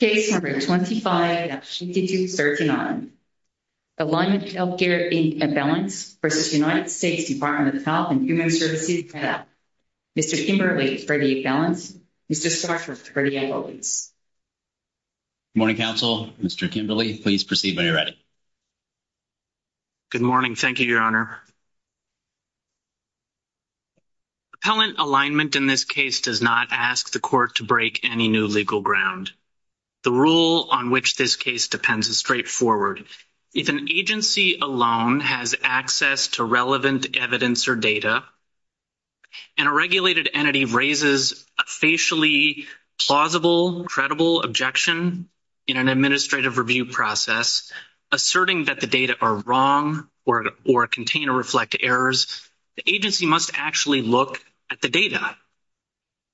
Case No. 25-2239, Alignment Healthcare Inc. Appellants v. United States Department of Health and Human Services Appellant, Mr. Kimberly for the appellants, Mr. Starr for the appellants. Good morning, counsel. Mr. Kimberly, please proceed when you're ready. Good morning. Thank you, Your Honor. Appellant alignment in this case does not ask the court to break any new legal ground. The rule on which this case depends is straightforward. If an agency alone has access to relevant evidence or data, and a regulated entity raises a facially plausible, credible objection in an administrative review process, asserting that the data are wrong or contain or reflect errors, the agency must actually look at the data.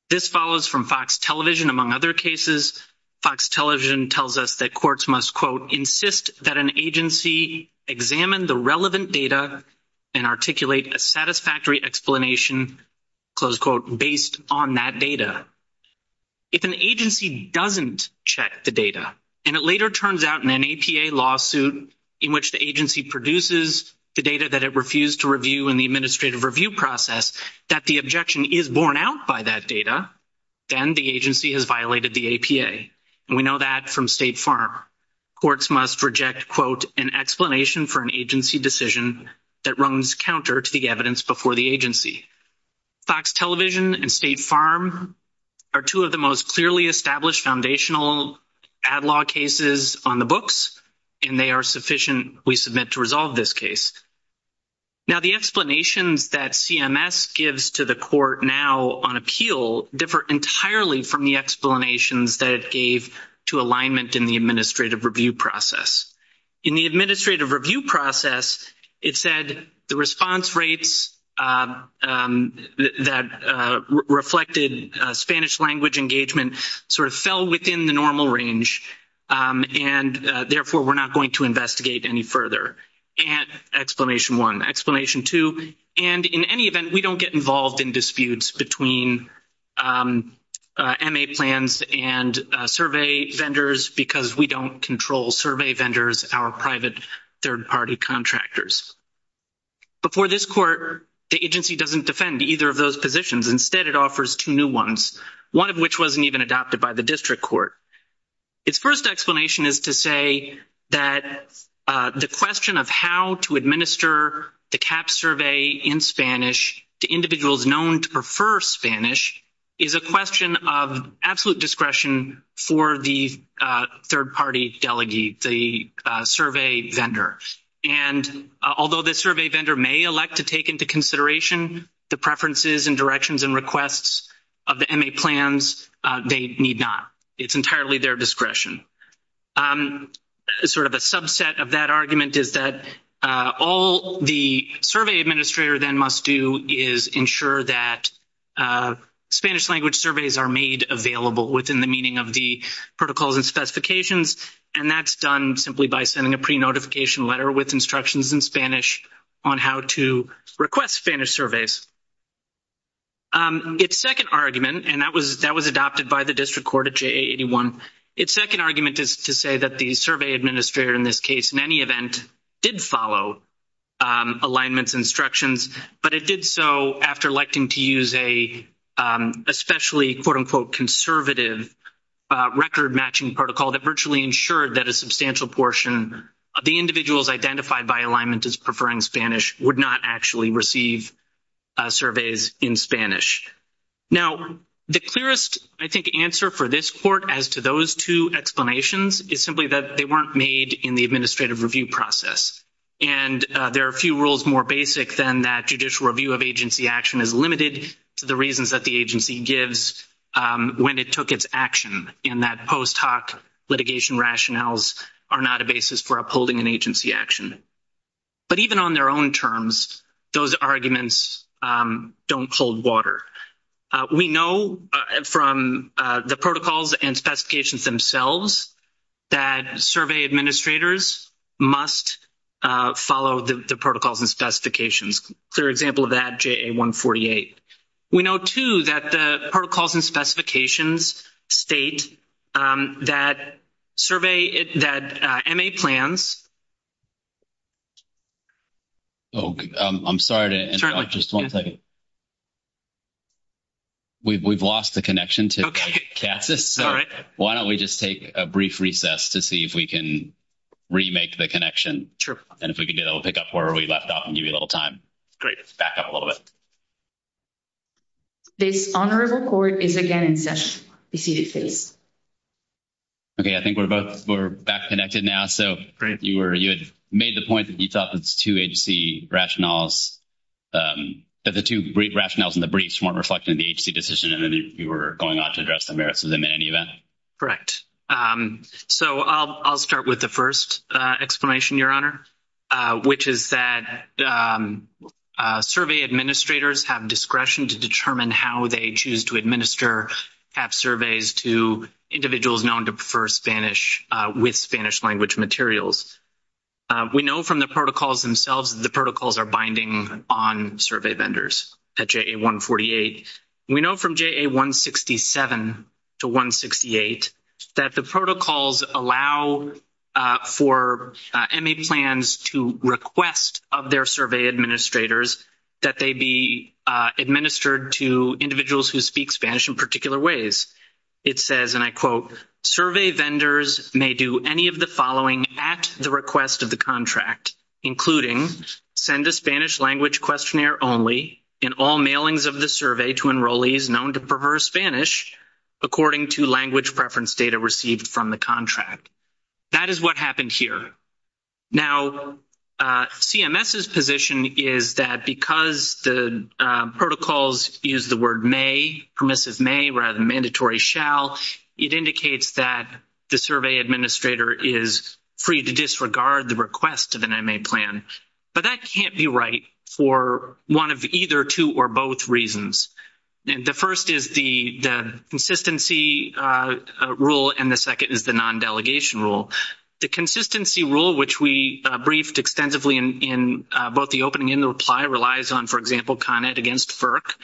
This follows from Fox Television, among other cases. Fox Television tells us that courts must, quote, insist that an agency examine the relevant data and articulate a satisfactory explanation, close quote, based on that data. If an agency doesn't check the data, and it later turns out in an APA lawsuit in which the agency produces the data that it refused to review in the administrative review process, that the objection is borne out by that data, then the agency has violated the APA. And we know that from State Farm. Courts must reject, quote, an explanation for an agency decision that runs counter to the evidence before the agency. Fox Television and State Farm are two of the most clearly established foundational ad-law cases on the books, and they are sufficient, we submit, to resolve this case. Now the explanations that CMS gives to the court now on appeal differ entirely from the explanations that it gave to alignment in the administrative review process. In the administrative review process, it said the response rates that reflected Spanish language engagement sort of fell within the normal range, and therefore we're not going to investigate any further. Explanation one. Explanation two. And in any event, we don't get involved in disputes between MA plans and survey vendors because we don't control survey vendors, our private third-party contractors. Before this court, the agency doesn't defend either of those positions. Instead, it offers two new ones, one of which wasn't even adopted by the district court. Its first explanation is to say that the question of how to administer the CAHPS survey in Spanish to individuals known to prefer Spanish is a question of absolute discretion for the third-party delegate, the survey vendor. And although the survey vendor may elect to take into consideration the preferences and directions and requests of the MA plans, they need not. It's entirely their discretion. Sort of a subset of that argument is that all the survey administrator then must do is ensure that Spanish language surveys are made available within the meaning of the protocols and specifications, and that's done simply by sending a pre-notification letter with instructions in Spanish on how to request Spanish surveys. Its second argument, and that was adopted by the district court at JA-81, its second argument is to say that the survey administrator in this case, in any event, did follow alignments instructions, but it did so after electing to use a especially, quote-unquote, conservative record-matching protocol that virtually ensured that a substantial portion of the individuals identified by alignment as preferring Spanish would not actually receive surveys in Spanish. Now, the clearest, I think, answer for this court as to those two explanations is simply that they weren't made in the administrative review process. And there are few rules more basic than that judicial review of agency action is limited to the reasons that the agency gives when it took its action, and that post hoc litigation rationales are not a basis for upholding an agency action. But even on their own terms, those arguments don't hold water. We know from the protocols and specifications themselves that survey administrators must follow the protocols and specifications. A clear example of that, JA-148. We know, too, that the protocols and specifications state that survey, that MA plans. Oh, I'm sorry to interrupt. Just one second. We've lost the connection to Catsys. All right. Why don't we just take a brief recess to see if we can remake the connection. And if we can get it, we'll pick up where we left off and give you a little time. Great. Back up a little bit. This honorable court is again in session. Be seated, please. Okay, I think we're back connected now. So you had made the point that you thought that the two brief rationales in the briefs weren't reflecting the agency decision, and then you were going on to address the merits of them in any event. Correct. So I'll start with the first explanation, Your Honor, which is that survey administrators have discretion to determine how they choose to administer CAHPS surveys to individuals known to prefer Spanish with Spanish language materials. We know from the protocols themselves that the protocols are binding on survey vendors at JA-148. We know from JA-167 to 168 that the protocols allow for MA plans to request of their survey administrators that they be administered to individuals who speak Spanish in particular ways. It says, and I quote, survey vendors may do any of the following at the request of the contract, including send a Spanish language questionnaire only in all mailings of the survey to enrollees known to prefer Spanish according to language preference data received from the contract. That is what happened here. Now, CMS's position is that because the protocols use the word may, permissive may rather than mandatory shall, it indicates that the survey administrator is free to disregard the request of an MA plan. But that can't be right for one of either two or both reasons. The first is the consistency rule, and the second is the non-delegation rule. The consistency rule, which we briefed extensively in both the opening and the reply, relies on, for example, CONED against FERC,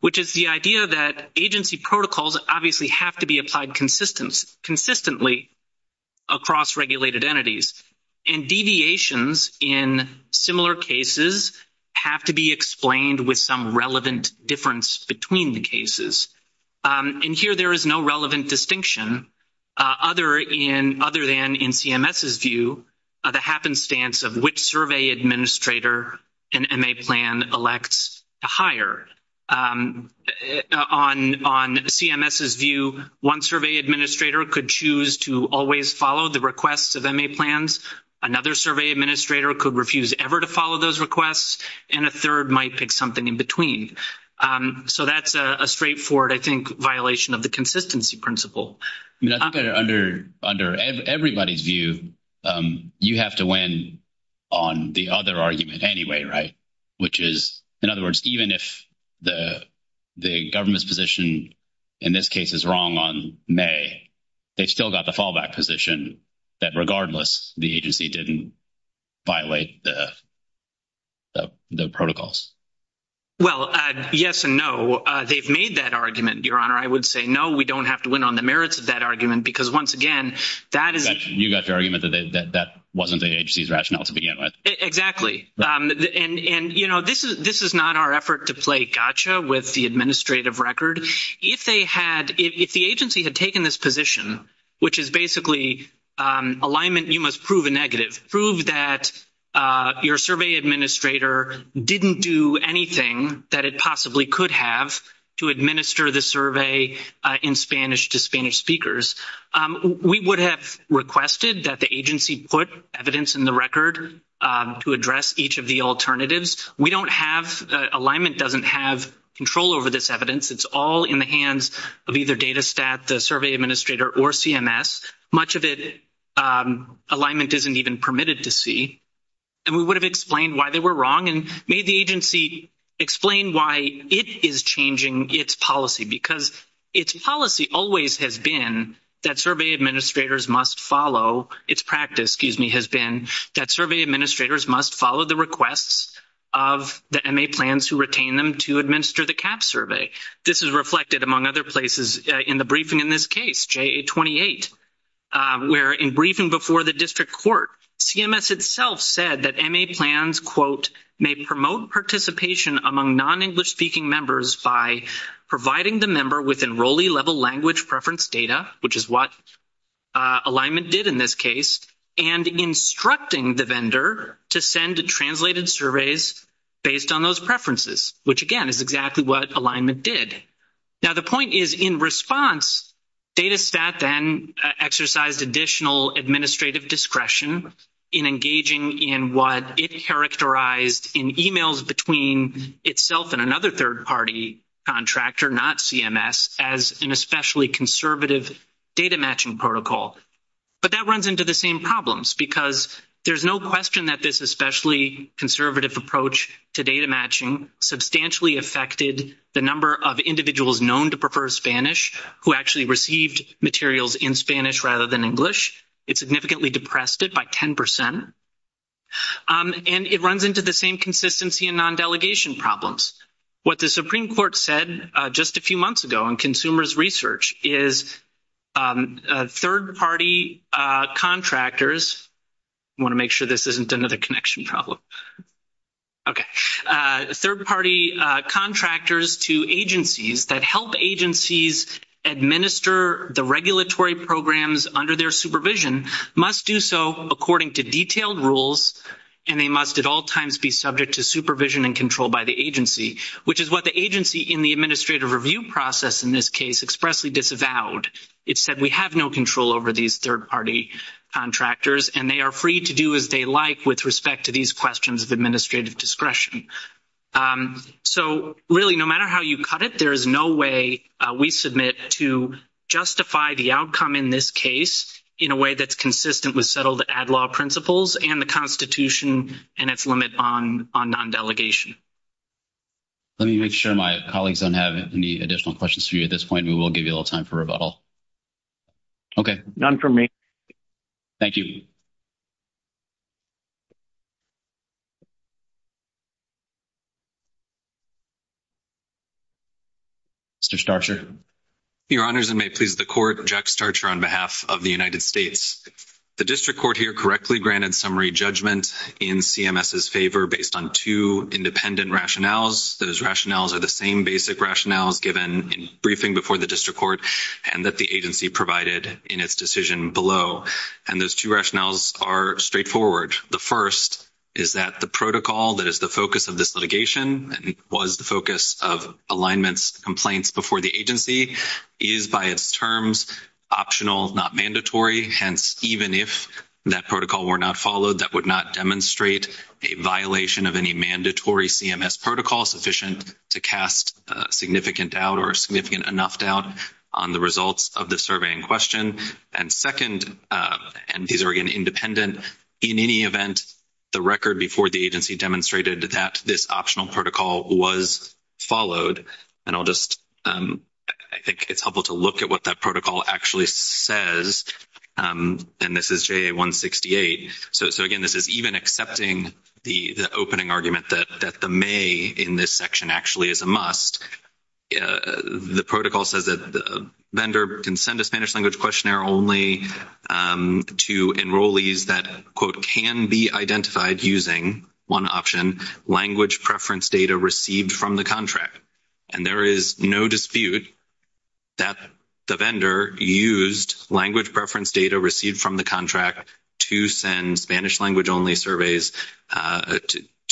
which is the idea that agency protocols obviously have to be applied consistently across regulated entities, and deviations in similar cases have to be explained with some relevant difference between the cases. And here there is no relevant distinction other than in CMS's view, the happenstance of which survey administrator an MA plan elects to hire. On CMS's view, one survey administrator could choose to always follow the requests of MA plans, another survey administrator could refuse ever to follow those requests, and a third might pick something in between. So that's a straightforward, I think, violation of the consistency principle. I mean, I think that under everybody's view, you have to win on the other argument anyway, right? Which is, in other words, even if the government's position in this case is wrong on may, they've still got the fallback position that regardless the agency didn't violate the protocols. Well, yes and no. They've made that argument, Your Honor. I would say no, we don't have to win on the merits of that argument because, once again, that is- You got the argument that that wasn't the agency's rationale to begin with. Exactly. And, you know, this is not our effort to play gotcha with the administrative record. If they had, if the agency had taken this position, which is basically alignment, you must prove a negative. If you have proved that your survey administrator didn't do anything that it possibly could have to administer the survey in Spanish to Spanish speakers, we would have requested that the agency put evidence in the record to address each of the alternatives. We don't have-alignment doesn't have control over this evidence. It's all in the hands of either DATA Stat, the survey administrator, or CMS. Much of it alignment isn't even permitted to see. And we would have explained why they were wrong and made the agency explain why it is changing its policy because its policy always has been that survey administrators must follow-its practice, excuse me, has been that survey administrators must follow the requests of the MA plans who retain them to administer the CAHPS survey. This is reflected, among other places, in the briefing in this case, JA-28, where in briefing before the district court, CMS itself said that MA plans, quote, may promote participation among non-English speaking members by providing the member with enrollee level language preference data, which is what alignment did in this case, and instructing the vendor to send translated surveys based on those preferences, which, again, is exactly what alignment did. Now, the point is in response, DATA Stat then exercised additional administrative discretion in engaging in what it characterized in emails between itself and another third-party contractor, not CMS, as an especially conservative data matching protocol. But that runs into the same problems because there's no question that this especially conservative approach to data matching substantially affected the number of individuals known to prefer Spanish who actually received materials in Spanish rather than English. It significantly depressed it by 10%. And it runs into the same consistency in non-delegation problems. What the Supreme Court said just a few months ago in consumers' research is third-party contractors, I want to make sure this isn't another connection problem, okay, third-party contractors to agencies that help agencies administer the regulatory programs under their supervision must do so according to detailed rules, and they must at all times be subject to supervision and control by the agency, which is what the agency in the administrative review process in this case expressly disavowed. It said we have no control over these third-party contractors, and they are free to do as they like with respect to these questions of administrative discretion. So, really, no matter how you cut it, there is no way we submit to justify the outcome in this case in a way that's consistent with settled ad law principles and the Constitution and its limit on non-delegation. Let me make sure my colleagues don't have any additional questions for you at this point. And we will give you a little time for rebuttal. Okay. None for me. Thank you. Mr. Starcher. Your Honors, and may it please the Court, Jack Starcher on behalf of the United States. The district court here correctly granted summary judgment in CMS's favor based on two independent rationales. Those rationales are the same basic rationales given in briefing before the district court and that the agency provided in its decision below. And those two rationales are straightforward. The first is that the protocol that is the focus of this litigation and was the focus of alignments complaints before the agency is by its terms optional, not mandatory. Hence, even if that protocol were not followed, that would not demonstrate a violation of any mandatory CMS protocol sufficient to cast significant doubt or significant enough doubt on the results of the survey in question. And second, and these are, again, independent, in any event, the record before the agency demonstrated that this optional protocol was followed. And I'll just, I think it's helpful to look at what that protocol actually says. And this is JA-168. So, again, this is even accepting the opening argument that the may in this section actually is a must. The protocol says that the vendor can send a Spanish language questionnaire only to enrollees that, quote, can be identified using one option, language preference data received from the contract. And there is no dispute that the vendor used language preference data received from the contract to send Spanish language only surveys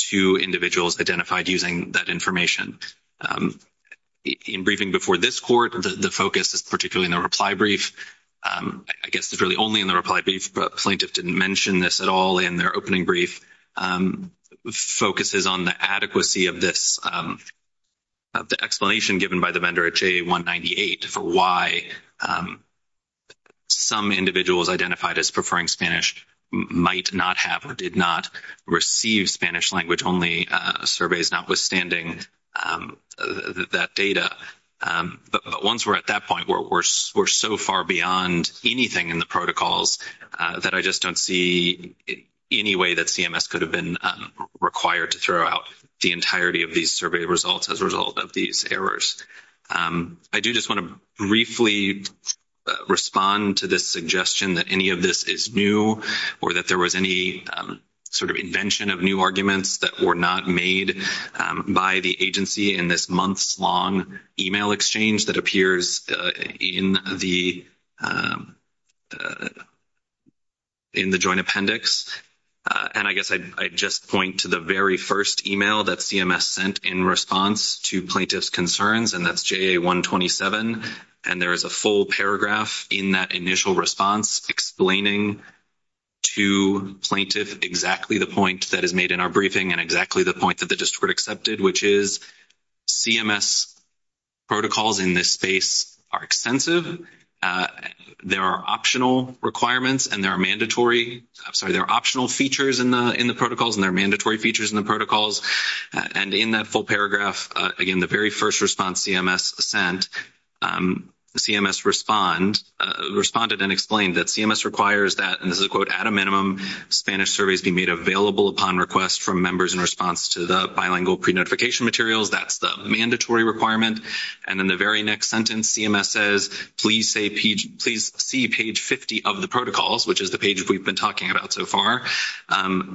to individuals identified using that information. In briefing before this court, the focus is particularly in the reply brief. I guess it's really only in the reply brief. The plaintiff didn't mention this at all in their opening brief. The focus is on the adequacy of this, of the explanation given by the vendor at JA-198 for why some individuals identified as preferring Spanish might not have or did not receive Spanish language only surveys notwithstanding that data. But once we're at that point, we're so far beyond anything in the protocols that I just don't see any way that CMS could have been required to throw out the entirety of these survey results as a result of these errors. I do just want to briefly respond to this suggestion that any of this is new or that there was any sort of invention of new arguments that were not made by the agency in this months-long email exchange that appears in the joint appendix. And I guess I'd just point to the very first email that CMS sent in response to plaintiff's concerns, and that's JA-127. And there is a full paragraph in that initial response explaining to plaintiff exactly the point that is made in our briefing and exactly the point that the district accepted, which is CMS protocols in this space are extensive. There are optional requirements and there are mandatory, I'm sorry, there are optional features in the protocols and there are mandatory features in the protocols. And in that full paragraph, again, the very first response CMS sent, CMS responded and explained that CMS requires that, and this is a quote, that at a minimum, Spanish surveys be made available upon request from members in response to the bilingual pre-notification materials. That's the mandatory requirement. And in the very next sentence, CMS says, please see page 50 of the protocols, which is the page we've been talking about so far,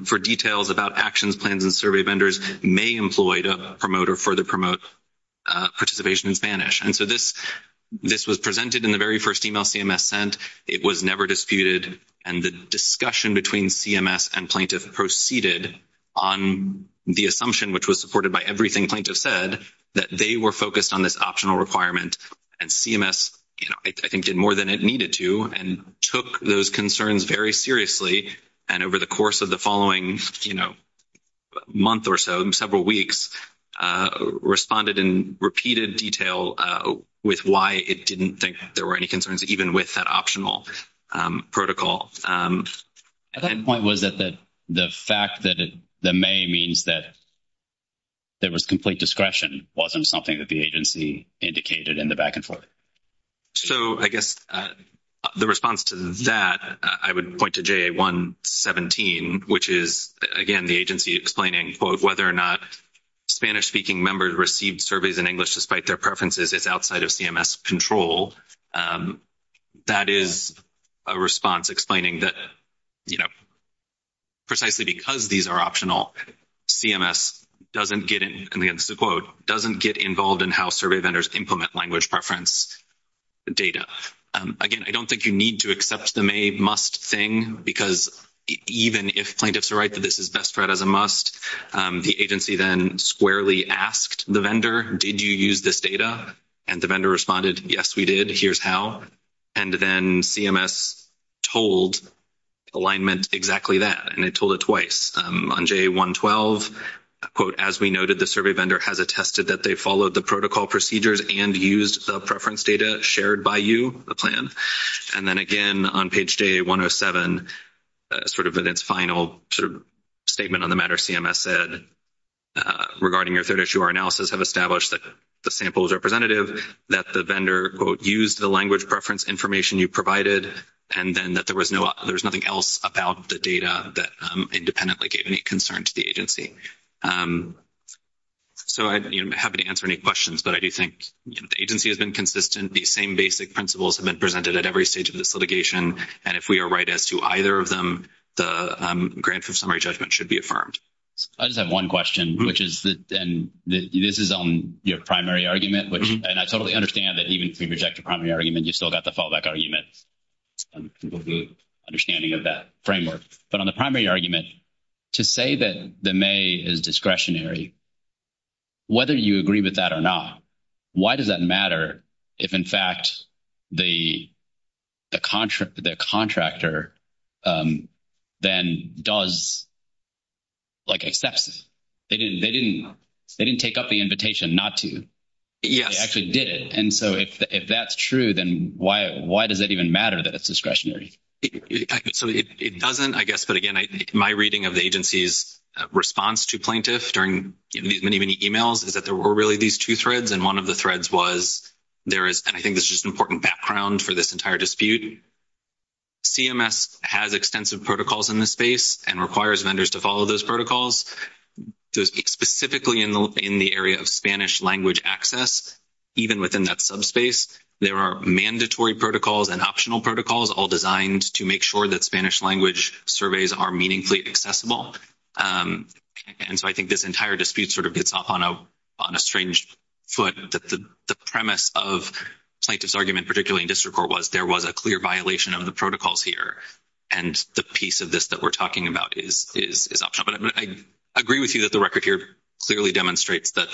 for details about actions, plans, and survey vendors may employ to promote or further promote participation in Spanish. And so this was presented in the very first email CMS sent. It was never disputed. And the discussion between CMS and plaintiff proceeded on the assumption, which was supported by everything plaintiff said, that they were focused on this optional requirement. And CMS, you know, I think did more than it needed to and took those concerns very seriously. And over the course of the following, you know, month or so, several weeks, CMS responded in repeated detail with why it didn't think there were any concerns, even with that optional protocol. At that point, was it the fact that the may means that there was complete discretion wasn't something that the agency indicated in the back and forth? So I guess the response to that, I would point to JA-117, which is, again, the agency explaining, quote, whether or not Spanish-speaking members received surveys in English despite their preferences is outside of CMS control. That is a response explaining that, you know, precisely because these are optional, CMS doesn't get in, quote, doesn't get involved in how survey vendors implement language preference data. Again, I don't think you need to accept the may must thing because even if plaintiffs are right that this is best read as a must, the agency then squarely asked the vendor, did you use this data? And the vendor responded, yes, we did. Here's how. And then CMS told alignment exactly that, and it told it twice. On JA-112, quote, as we noted, the survey vendor has attested that they followed the protocol procedures and used the preference data shared by you, the plan. And then again on page JA-107, sort of in its final statement on the matter, CMS said, regarding your third issue, our analysis have established that the sample is representative, that the vendor, quote, used the language preference information you provided, and then that there was nothing else about the data that independently gave any concern to the agency. So I'm happy to answer any questions, but I do think the agency has been consistent. These same basic principles have been presented at every stage of this litigation, and if we are right as to either of them, the grant for summary judgment should be affirmed. I just have one question, which is that this is on your primary argument, and I totally understand that even if we reject the primary argument, you still got the fallback argument. People have a good understanding of that framework. But on the primary argument, to say that the may is discretionary, whether you agree with that or not, why does that matter if, in fact, the contractor then does, like, accepts it? They didn't take up the invitation not to. They actually did it. And so if that's true, then why does it even matter that it's discretionary? So it doesn't, I guess, but again, my reading of the agency's response to plaintiff during these many, many emails is that there were really these two threads, and one of the threads was there is, and I think this is just an important background for this entire dispute. CMS has extensive protocols in this space and requires vendors to follow those protocols. Specifically in the area of Spanish language access, even within that subspace, there are mandatory protocols and optional protocols all designed to make sure that Spanish language surveys are meaningfully accessible. And so I think this entire dispute sort of gets off on a strange foot, that the premise of plaintiff's argument, particularly in district court, was there was a clear violation of the protocols here, and the piece of this that we're talking about is optional. But I agree with you that the record here clearly demonstrates that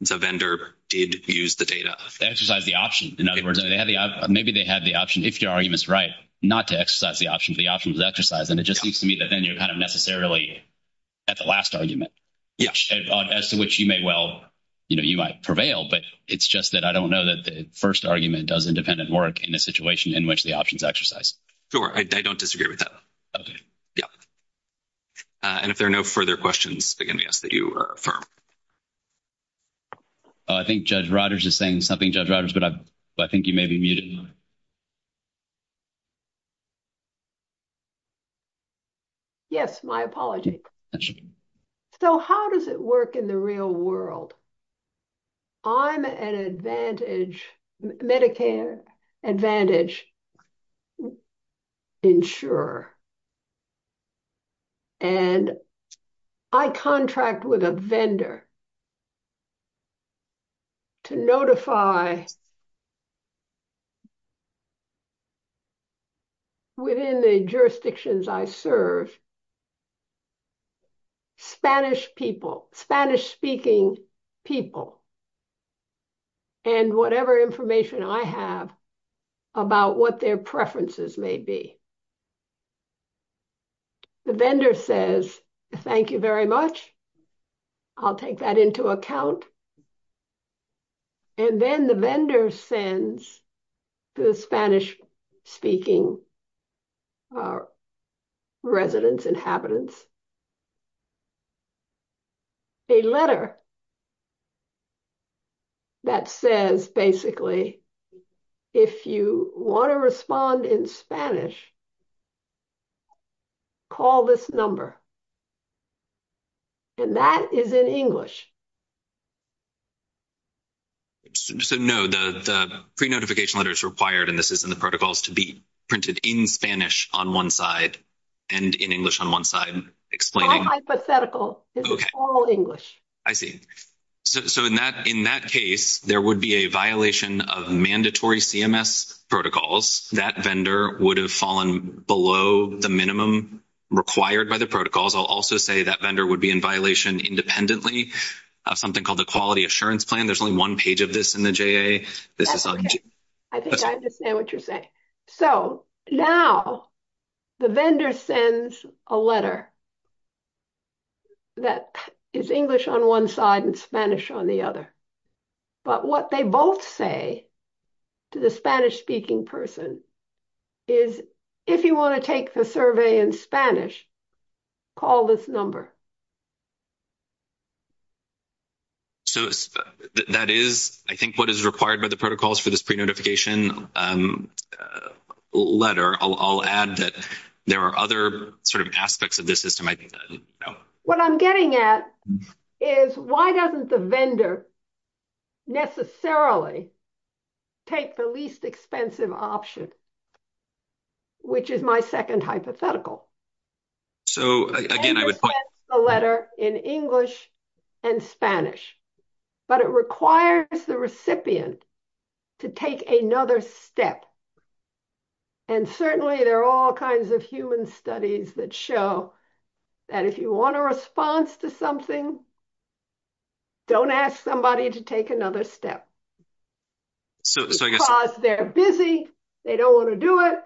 the vendor did use the data. They exercised the option. In other words, maybe they had the option, if your argument is right, not to exercise the option, and it just seems to me that then you're kind of necessarily at the last argument. As to which you may well, you know, you might prevail, but it's just that I don't know that the first argument does independent work in a situation in which the options exercise. Sure. I don't disagree with that. Okay. Yeah. And if there are no further questions, again, I guess that you are affirmed. I think Judge Rodgers is saying something, Judge Rodgers, but I think you may be muted. Yes, my apologies. So how does it work in the real world? I'm an advantage, Medicare advantage insurer, and I contract with a vendor to notify, within the jurisdictions I serve, Spanish people, Spanish-speaking people, and whatever information I have about what their preferences may be. The vendor says, thank you very much. I'll take that into account. And then the vendor sends to the Spanish-speaking residents, inhabitants, a letter that says, basically, if you want to respond in Spanish, call this number. And that is in English. So, no, the pre-notification letter is required, and this is in the protocols, to be printed in Spanish on one side and in English on one side, explaining. All hypothetical. Okay. This is all English. I see. So in that case, there would be a violation of mandatory CMS protocols. That vendor would have fallen below the minimum required by the protocols. I'll also say that vendor would be in violation independently of something called the Quality Assurance Plan. There's only one page of this in the JA. That's okay. I think I understand what you're saying. So now the vendor sends a letter that is English on one side and Spanish on the other. But what they both say to the Spanish-speaking person is, if you want to take the survey in Spanish, call this number. So that is, I think, what is required by the protocols for this pre-notification letter. I'll add that there are other sort of aspects of this system I didn't know. What I'm getting at is, why doesn't the vendor necessarily take the least expensive option, which is my second hypothetical? So, again, I would point to the letter in English and Spanish. But it requires the recipient to take another step. And certainly there are all kinds of human studies that show that if you want a response to something, don't ask somebody to take another step. Because they're busy, they don't want to do it,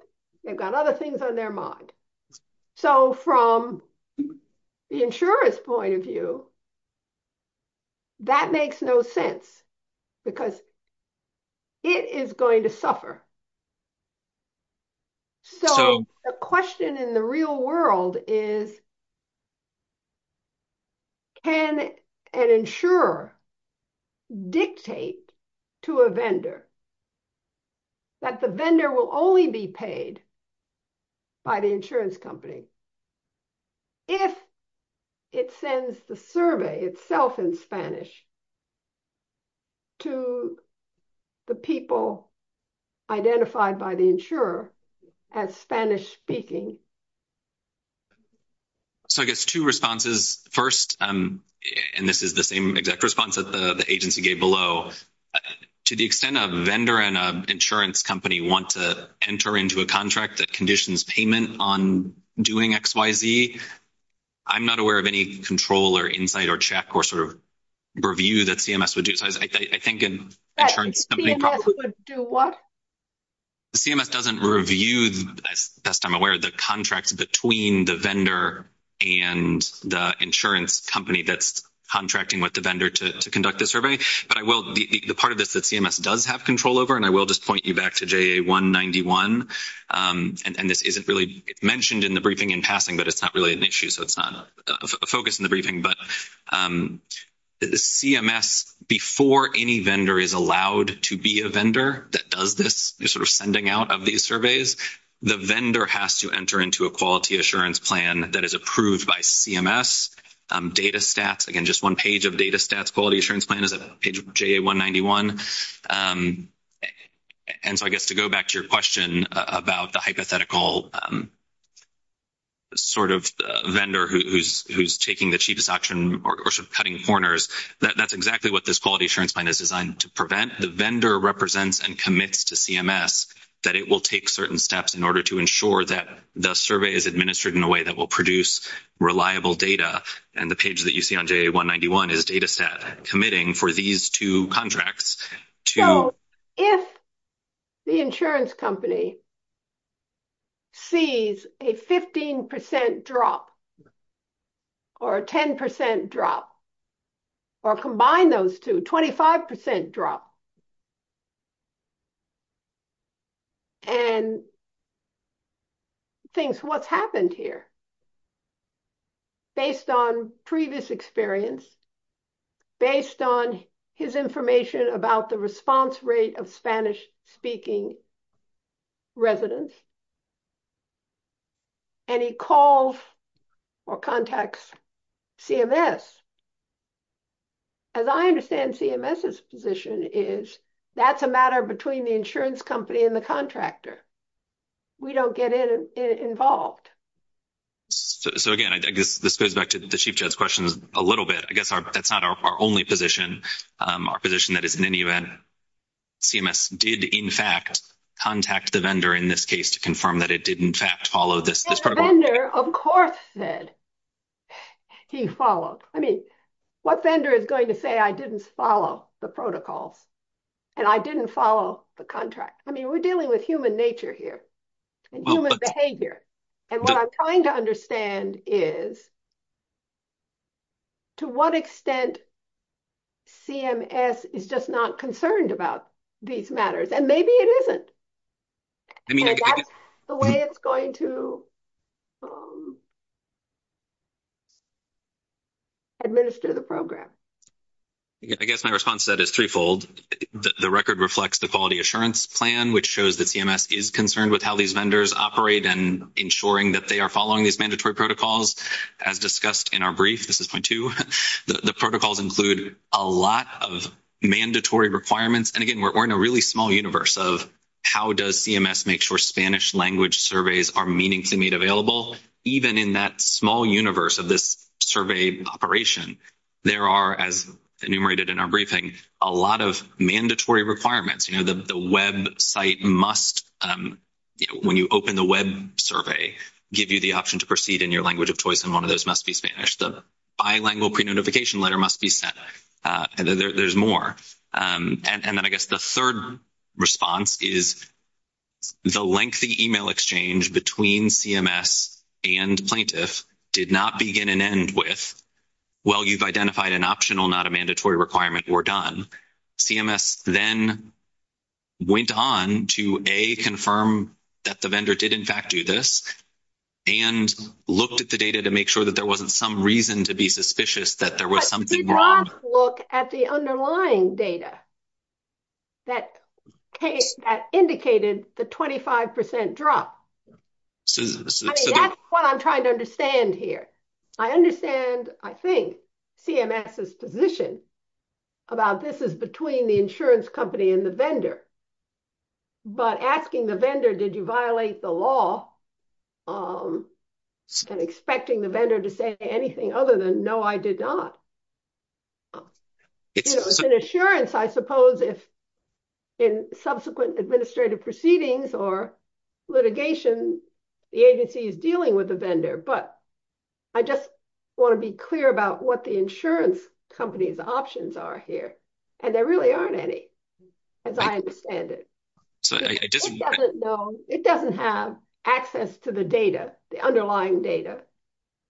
they've got other things on their mind. So from the insurer's point of view, that makes no sense because it is going to suffer. So the question in the real world is, can an insurer dictate to a vendor that the vendor will only be paid by the insurance company if it sends the survey itself in Spanish to the people identified by the insurer as Spanish-speaking? So I guess two responses. First, and this is the same exact response that the agency gave below, to the extent a vendor and an insurance company want to enter into a contract that conditions payment on doing XYZ, I'm not aware of any control or insight or check or sort of review that CMS would do. So I think an insurance company probably would do what? CMS doesn't review, as best I'm aware, the contracts between the vendor and the insurance company that's contracting with the vendor to conduct the survey. The part of this that CMS does have control over, and I will just point you back to JA191, and this isn't really mentioned in the briefing in passing, but it's not really an issue, so it's not a focus in the briefing, but CMS, before any vendor is allowed to be a vendor that does this, you're sort of sending out of these surveys, the vendor has to enter into a quality assurance plan that is approved by CMS. Data stats, again, just one page of data stats, quality assurance plan is at page of JA191. And so I guess to go back to your question about the hypothetical sort of vendor who's taking the cheapest option or sort of cutting corners, that's exactly what this quality assurance plan is designed to prevent. The vendor represents and commits to CMS that it will take certain steps in order to ensure that the survey is administered in a way that will produce reliable data. And the page that you see on JA191 is data stat committing for these two contracts to. So if the insurance company sees a 15% drop or a 10% drop or combine those two, 25% drop, and thinks what's happened here based on previous experience, based on his information about the response rate of Spanish-speaking residents, and he calls or contacts CMS, as I understand CMS's position is that's a matter between the insurance company and the contractor. We don't get involved. So again, I guess this goes back to the Chief Judge's question a little bit. I guess that's not our only position, our position that is in any event CMS did in fact contact the vendor in this case to confirm that it did in fact follow this protocol. The vendor, of course, said he followed. I mean, what vendor is going to say I didn't follow the protocols and I didn't follow the contract? I mean, we're dealing with human nature here and human behavior. And what I'm trying to understand is to what extent CMS is just not concerned about these matters, and maybe it isn't. And that's the way it's going to administer the program. I guess my response to that is threefold. The record reflects the quality assurance plan, which shows that CMS is concerned with how these vendors operate and ensuring that they are following these mandatory protocols. As discussed in our brief, this is point two, the protocols include a lot of mandatory requirements. And again, we're in a really small universe of how does CMS make sure Spanish language surveys are meaningfully made available. Even in that small universe of this survey operation, there are, as enumerated in our briefing, a lot of mandatory requirements. You know, the website must, when you open the web survey, give you the option to proceed in your language of choice, and one of those must be Spanish. The bilingual pre-notification letter must be sent. There's more. And then I guess the third response is the lengthy email exchange between CMS and plaintiff did not begin and end with, well, you've identified an optional, not a mandatory requirement, we're done. CMS then went on to, A, confirm that the vendor did, in fact, do this, and looked at the data to make sure that there wasn't some reason to be suspicious that there was something wrong. But did not look at the underlying data that indicated the 25% drop. I mean, that's what I'm trying to understand here. I understand, I think, CMS's position about this is between the insurance company and the vendor. But asking the vendor, did you violate the law, and expecting the vendor to say anything other than, no, I did not. You know, it's an assurance, I suppose, if in subsequent administrative proceedings or litigation, the agency is dealing with the vendor. But I just want to be clear about what the insurance company's options are here, and there really aren't any. As I understand it. It doesn't have access to the data, the underlying data.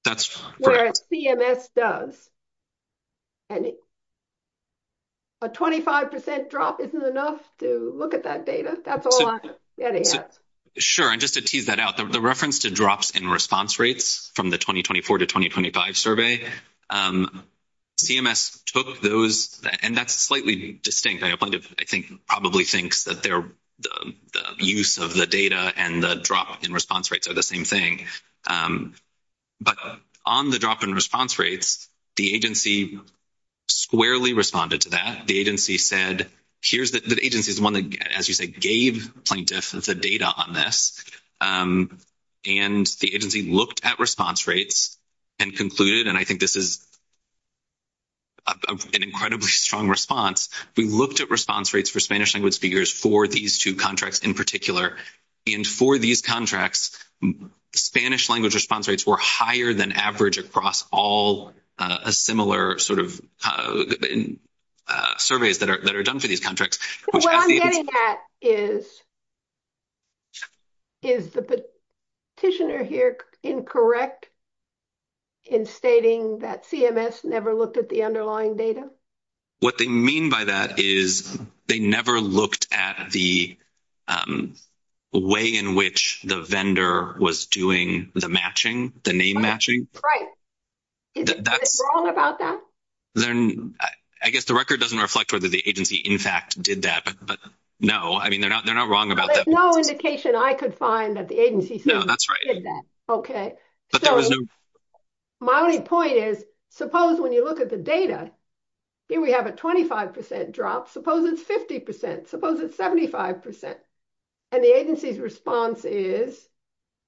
That's correct. Whereas CMS does. And a 25% drop isn't enough to look at that data. That's all I'm getting at. Sure, and just to tease that out, the reference to drops in response rates from the 2024 to 2025 survey, CMS took those, and that's slightly distinct. A plaintiff, I think, probably thinks that the use of the data and the drop in response rates are the same thing. But on the drop in response rates, the agency squarely responded to that. The agency said, here's the – the agency is the one that, as you say, gave plaintiffs the data on this. And the agency looked at response rates and concluded, and I think this is an incredibly strong response, we looked at response rates for Spanish-language speakers for these two contracts in particular. And for these contracts, Spanish-language response rates were higher than average across all similar sort of surveys that are done for these contracts. What I'm getting at is, is the petitioner here incorrect in stating that CMS never looked at the underlying data? What they mean by that is they never looked at the way in which the vendor was doing the matching, the name matching. Right. Is it wrong about that? I guess the record doesn't reflect whether the agency, in fact, did that, but no. I mean, they're not wrong about that. There's no indication I could find that the agency did that. No, that's right. Okay. But there was no – My only point is, suppose when you look at the data, here we have a 25 percent drop. Suppose it's 50 percent. Suppose it's 75 percent. And the agency's response is,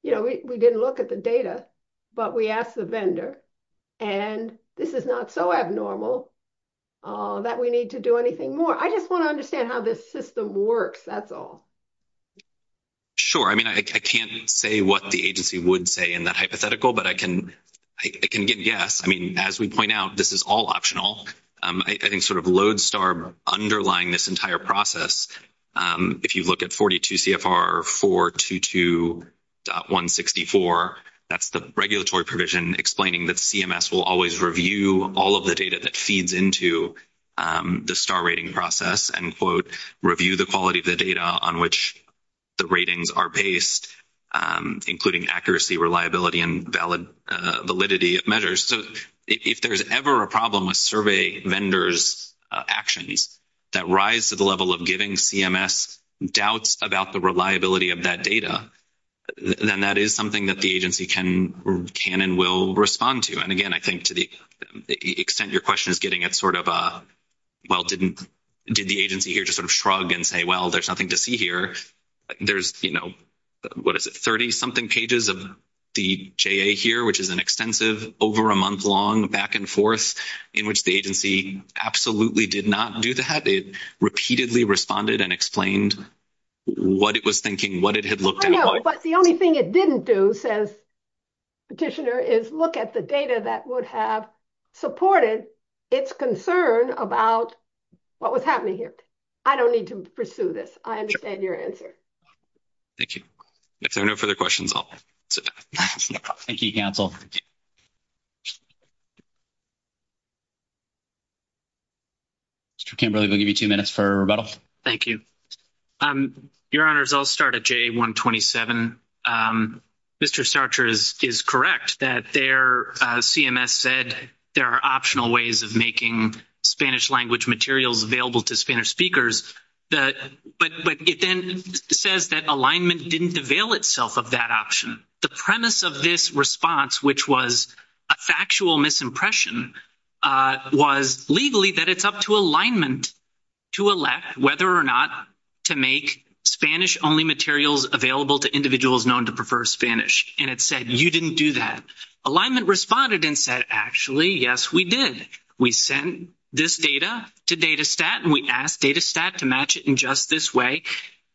you know, we didn't look at the data, but we asked the vendor, and this is not so abnormal that we need to do anything more. I just want to understand how this system works, that's all. Sure. I mean, I can't say what the agency would say in that hypothetical, but I can give yes. I mean, as we point out, this is all optional. I think sort of LODESTAR underlying this entire process, if you look at 42 CFR 422.164, that's the regulatory provision explaining that CMS will always review all of the data that feeds into the STAR rating process and, quote, review the quality of the data on which the ratings are based, including accuracy, reliability, and validity of measures. So if there's ever a problem with survey vendors' actions that rise to the level of giving CMS doubts about the reliability of that data, then that is something that the agency can and will respond to. And, again, I think to the extent your question is getting at sort of a, well, did the agency here just sort of shrug and say, well, there's nothing to see here, there's, you know, what is it, 30-something pages of the JA here, which is an extensive over-a-month-long back-and-forth in which the agency absolutely did not do that. It repeatedly responded and explained what it was thinking, what it had looked at. I know, but the only thing it didn't do, says Petitioner, is look at the data that would have supported its concern about what was happening here. I don't need to pursue this. I understand your answer. Thank you. If there are no further questions, I'll sit down. Thank you, counsel. Mr. Kimberly, we'll give you two minutes for rebuttal. Thank you. Your Honors, I'll start at JA-127. Mr. Sarcher is correct that their CMS said there are optional ways of making Spanish language materials available to Spanish speakers, but it then says that alignment didn't avail itself of that option. The premise of this response, which was a factual misimpression, was legally that it's up to alignment to elect whether or not to make Spanish-only materials available to individuals known to prefer Spanish, and it said you didn't do that. Alignment responded and said, actually, yes, we did. We sent this data to Datastat, and we asked Datastat to match it in just this way,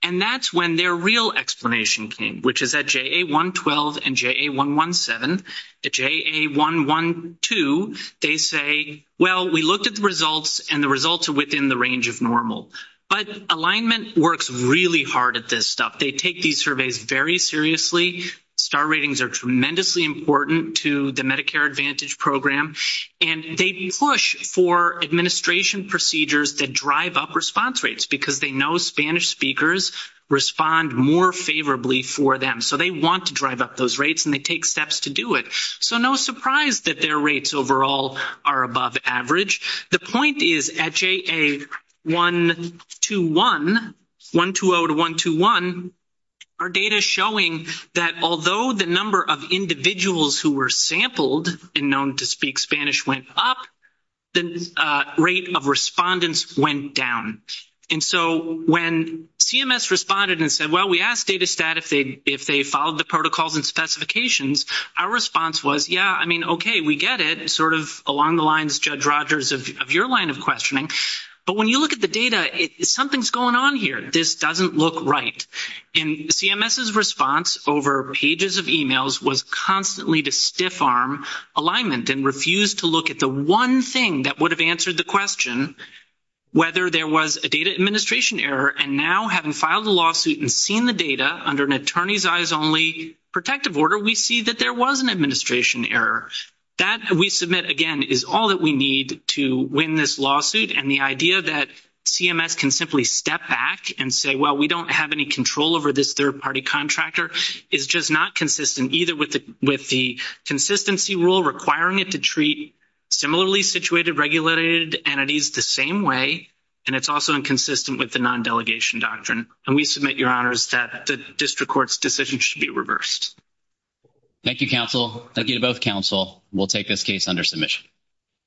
and that's when their real explanation came, which is at JA-112 and JA-117. At JA-112, they say, well, we looked at the results, and the results are within the range of normal. But alignment works really hard at this stuff. They take these surveys very seriously. Star ratings are tremendously important to the Medicare Advantage Program, and they push for administration procedures that drive up response rates because they know Spanish speakers respond more favorably for them. So they want to drive up those rates, and they take steps to do it. So no surprise that their rates overall are above average. The point is at JA-120 to JA-121, our data is showing that although the number of individuals who were sampled and known to speak Spanish went up, the rate of respondents went down. And so when CMS responded and said, well, we asked Datastat if they followed the protocols and specifications, our response was, yeah, I mean, okay, we get it, sort of along the lines, Judge Rogers, of your line of questioning. But when you look at the data, something's going on here. This doesn't look right. And CMS's response over pages of emails was constantly to stiff-arm alignment and refuse to look at the one thing that would have answered the question, whether there was a data administration error. And now, having filed a lawsuit and seen the data under an attorney's-eyes-only protective order, we see that there was an administration error. That, we submit, again, is all that we need to win this lawsuit. And the idea that CMS can simply step back and say, well, we don't have any control over this third-party contractor, is just not consistent either with the consistency rule requiring it to treat similarly situated regulated entities the same way, and it's also inconsistent with the non-delegation doctrine. And we submit, Your Honors, that the district court's decision should be reversed. Thank you, counsel. Thank you to both counsel. We'll take this case under submission.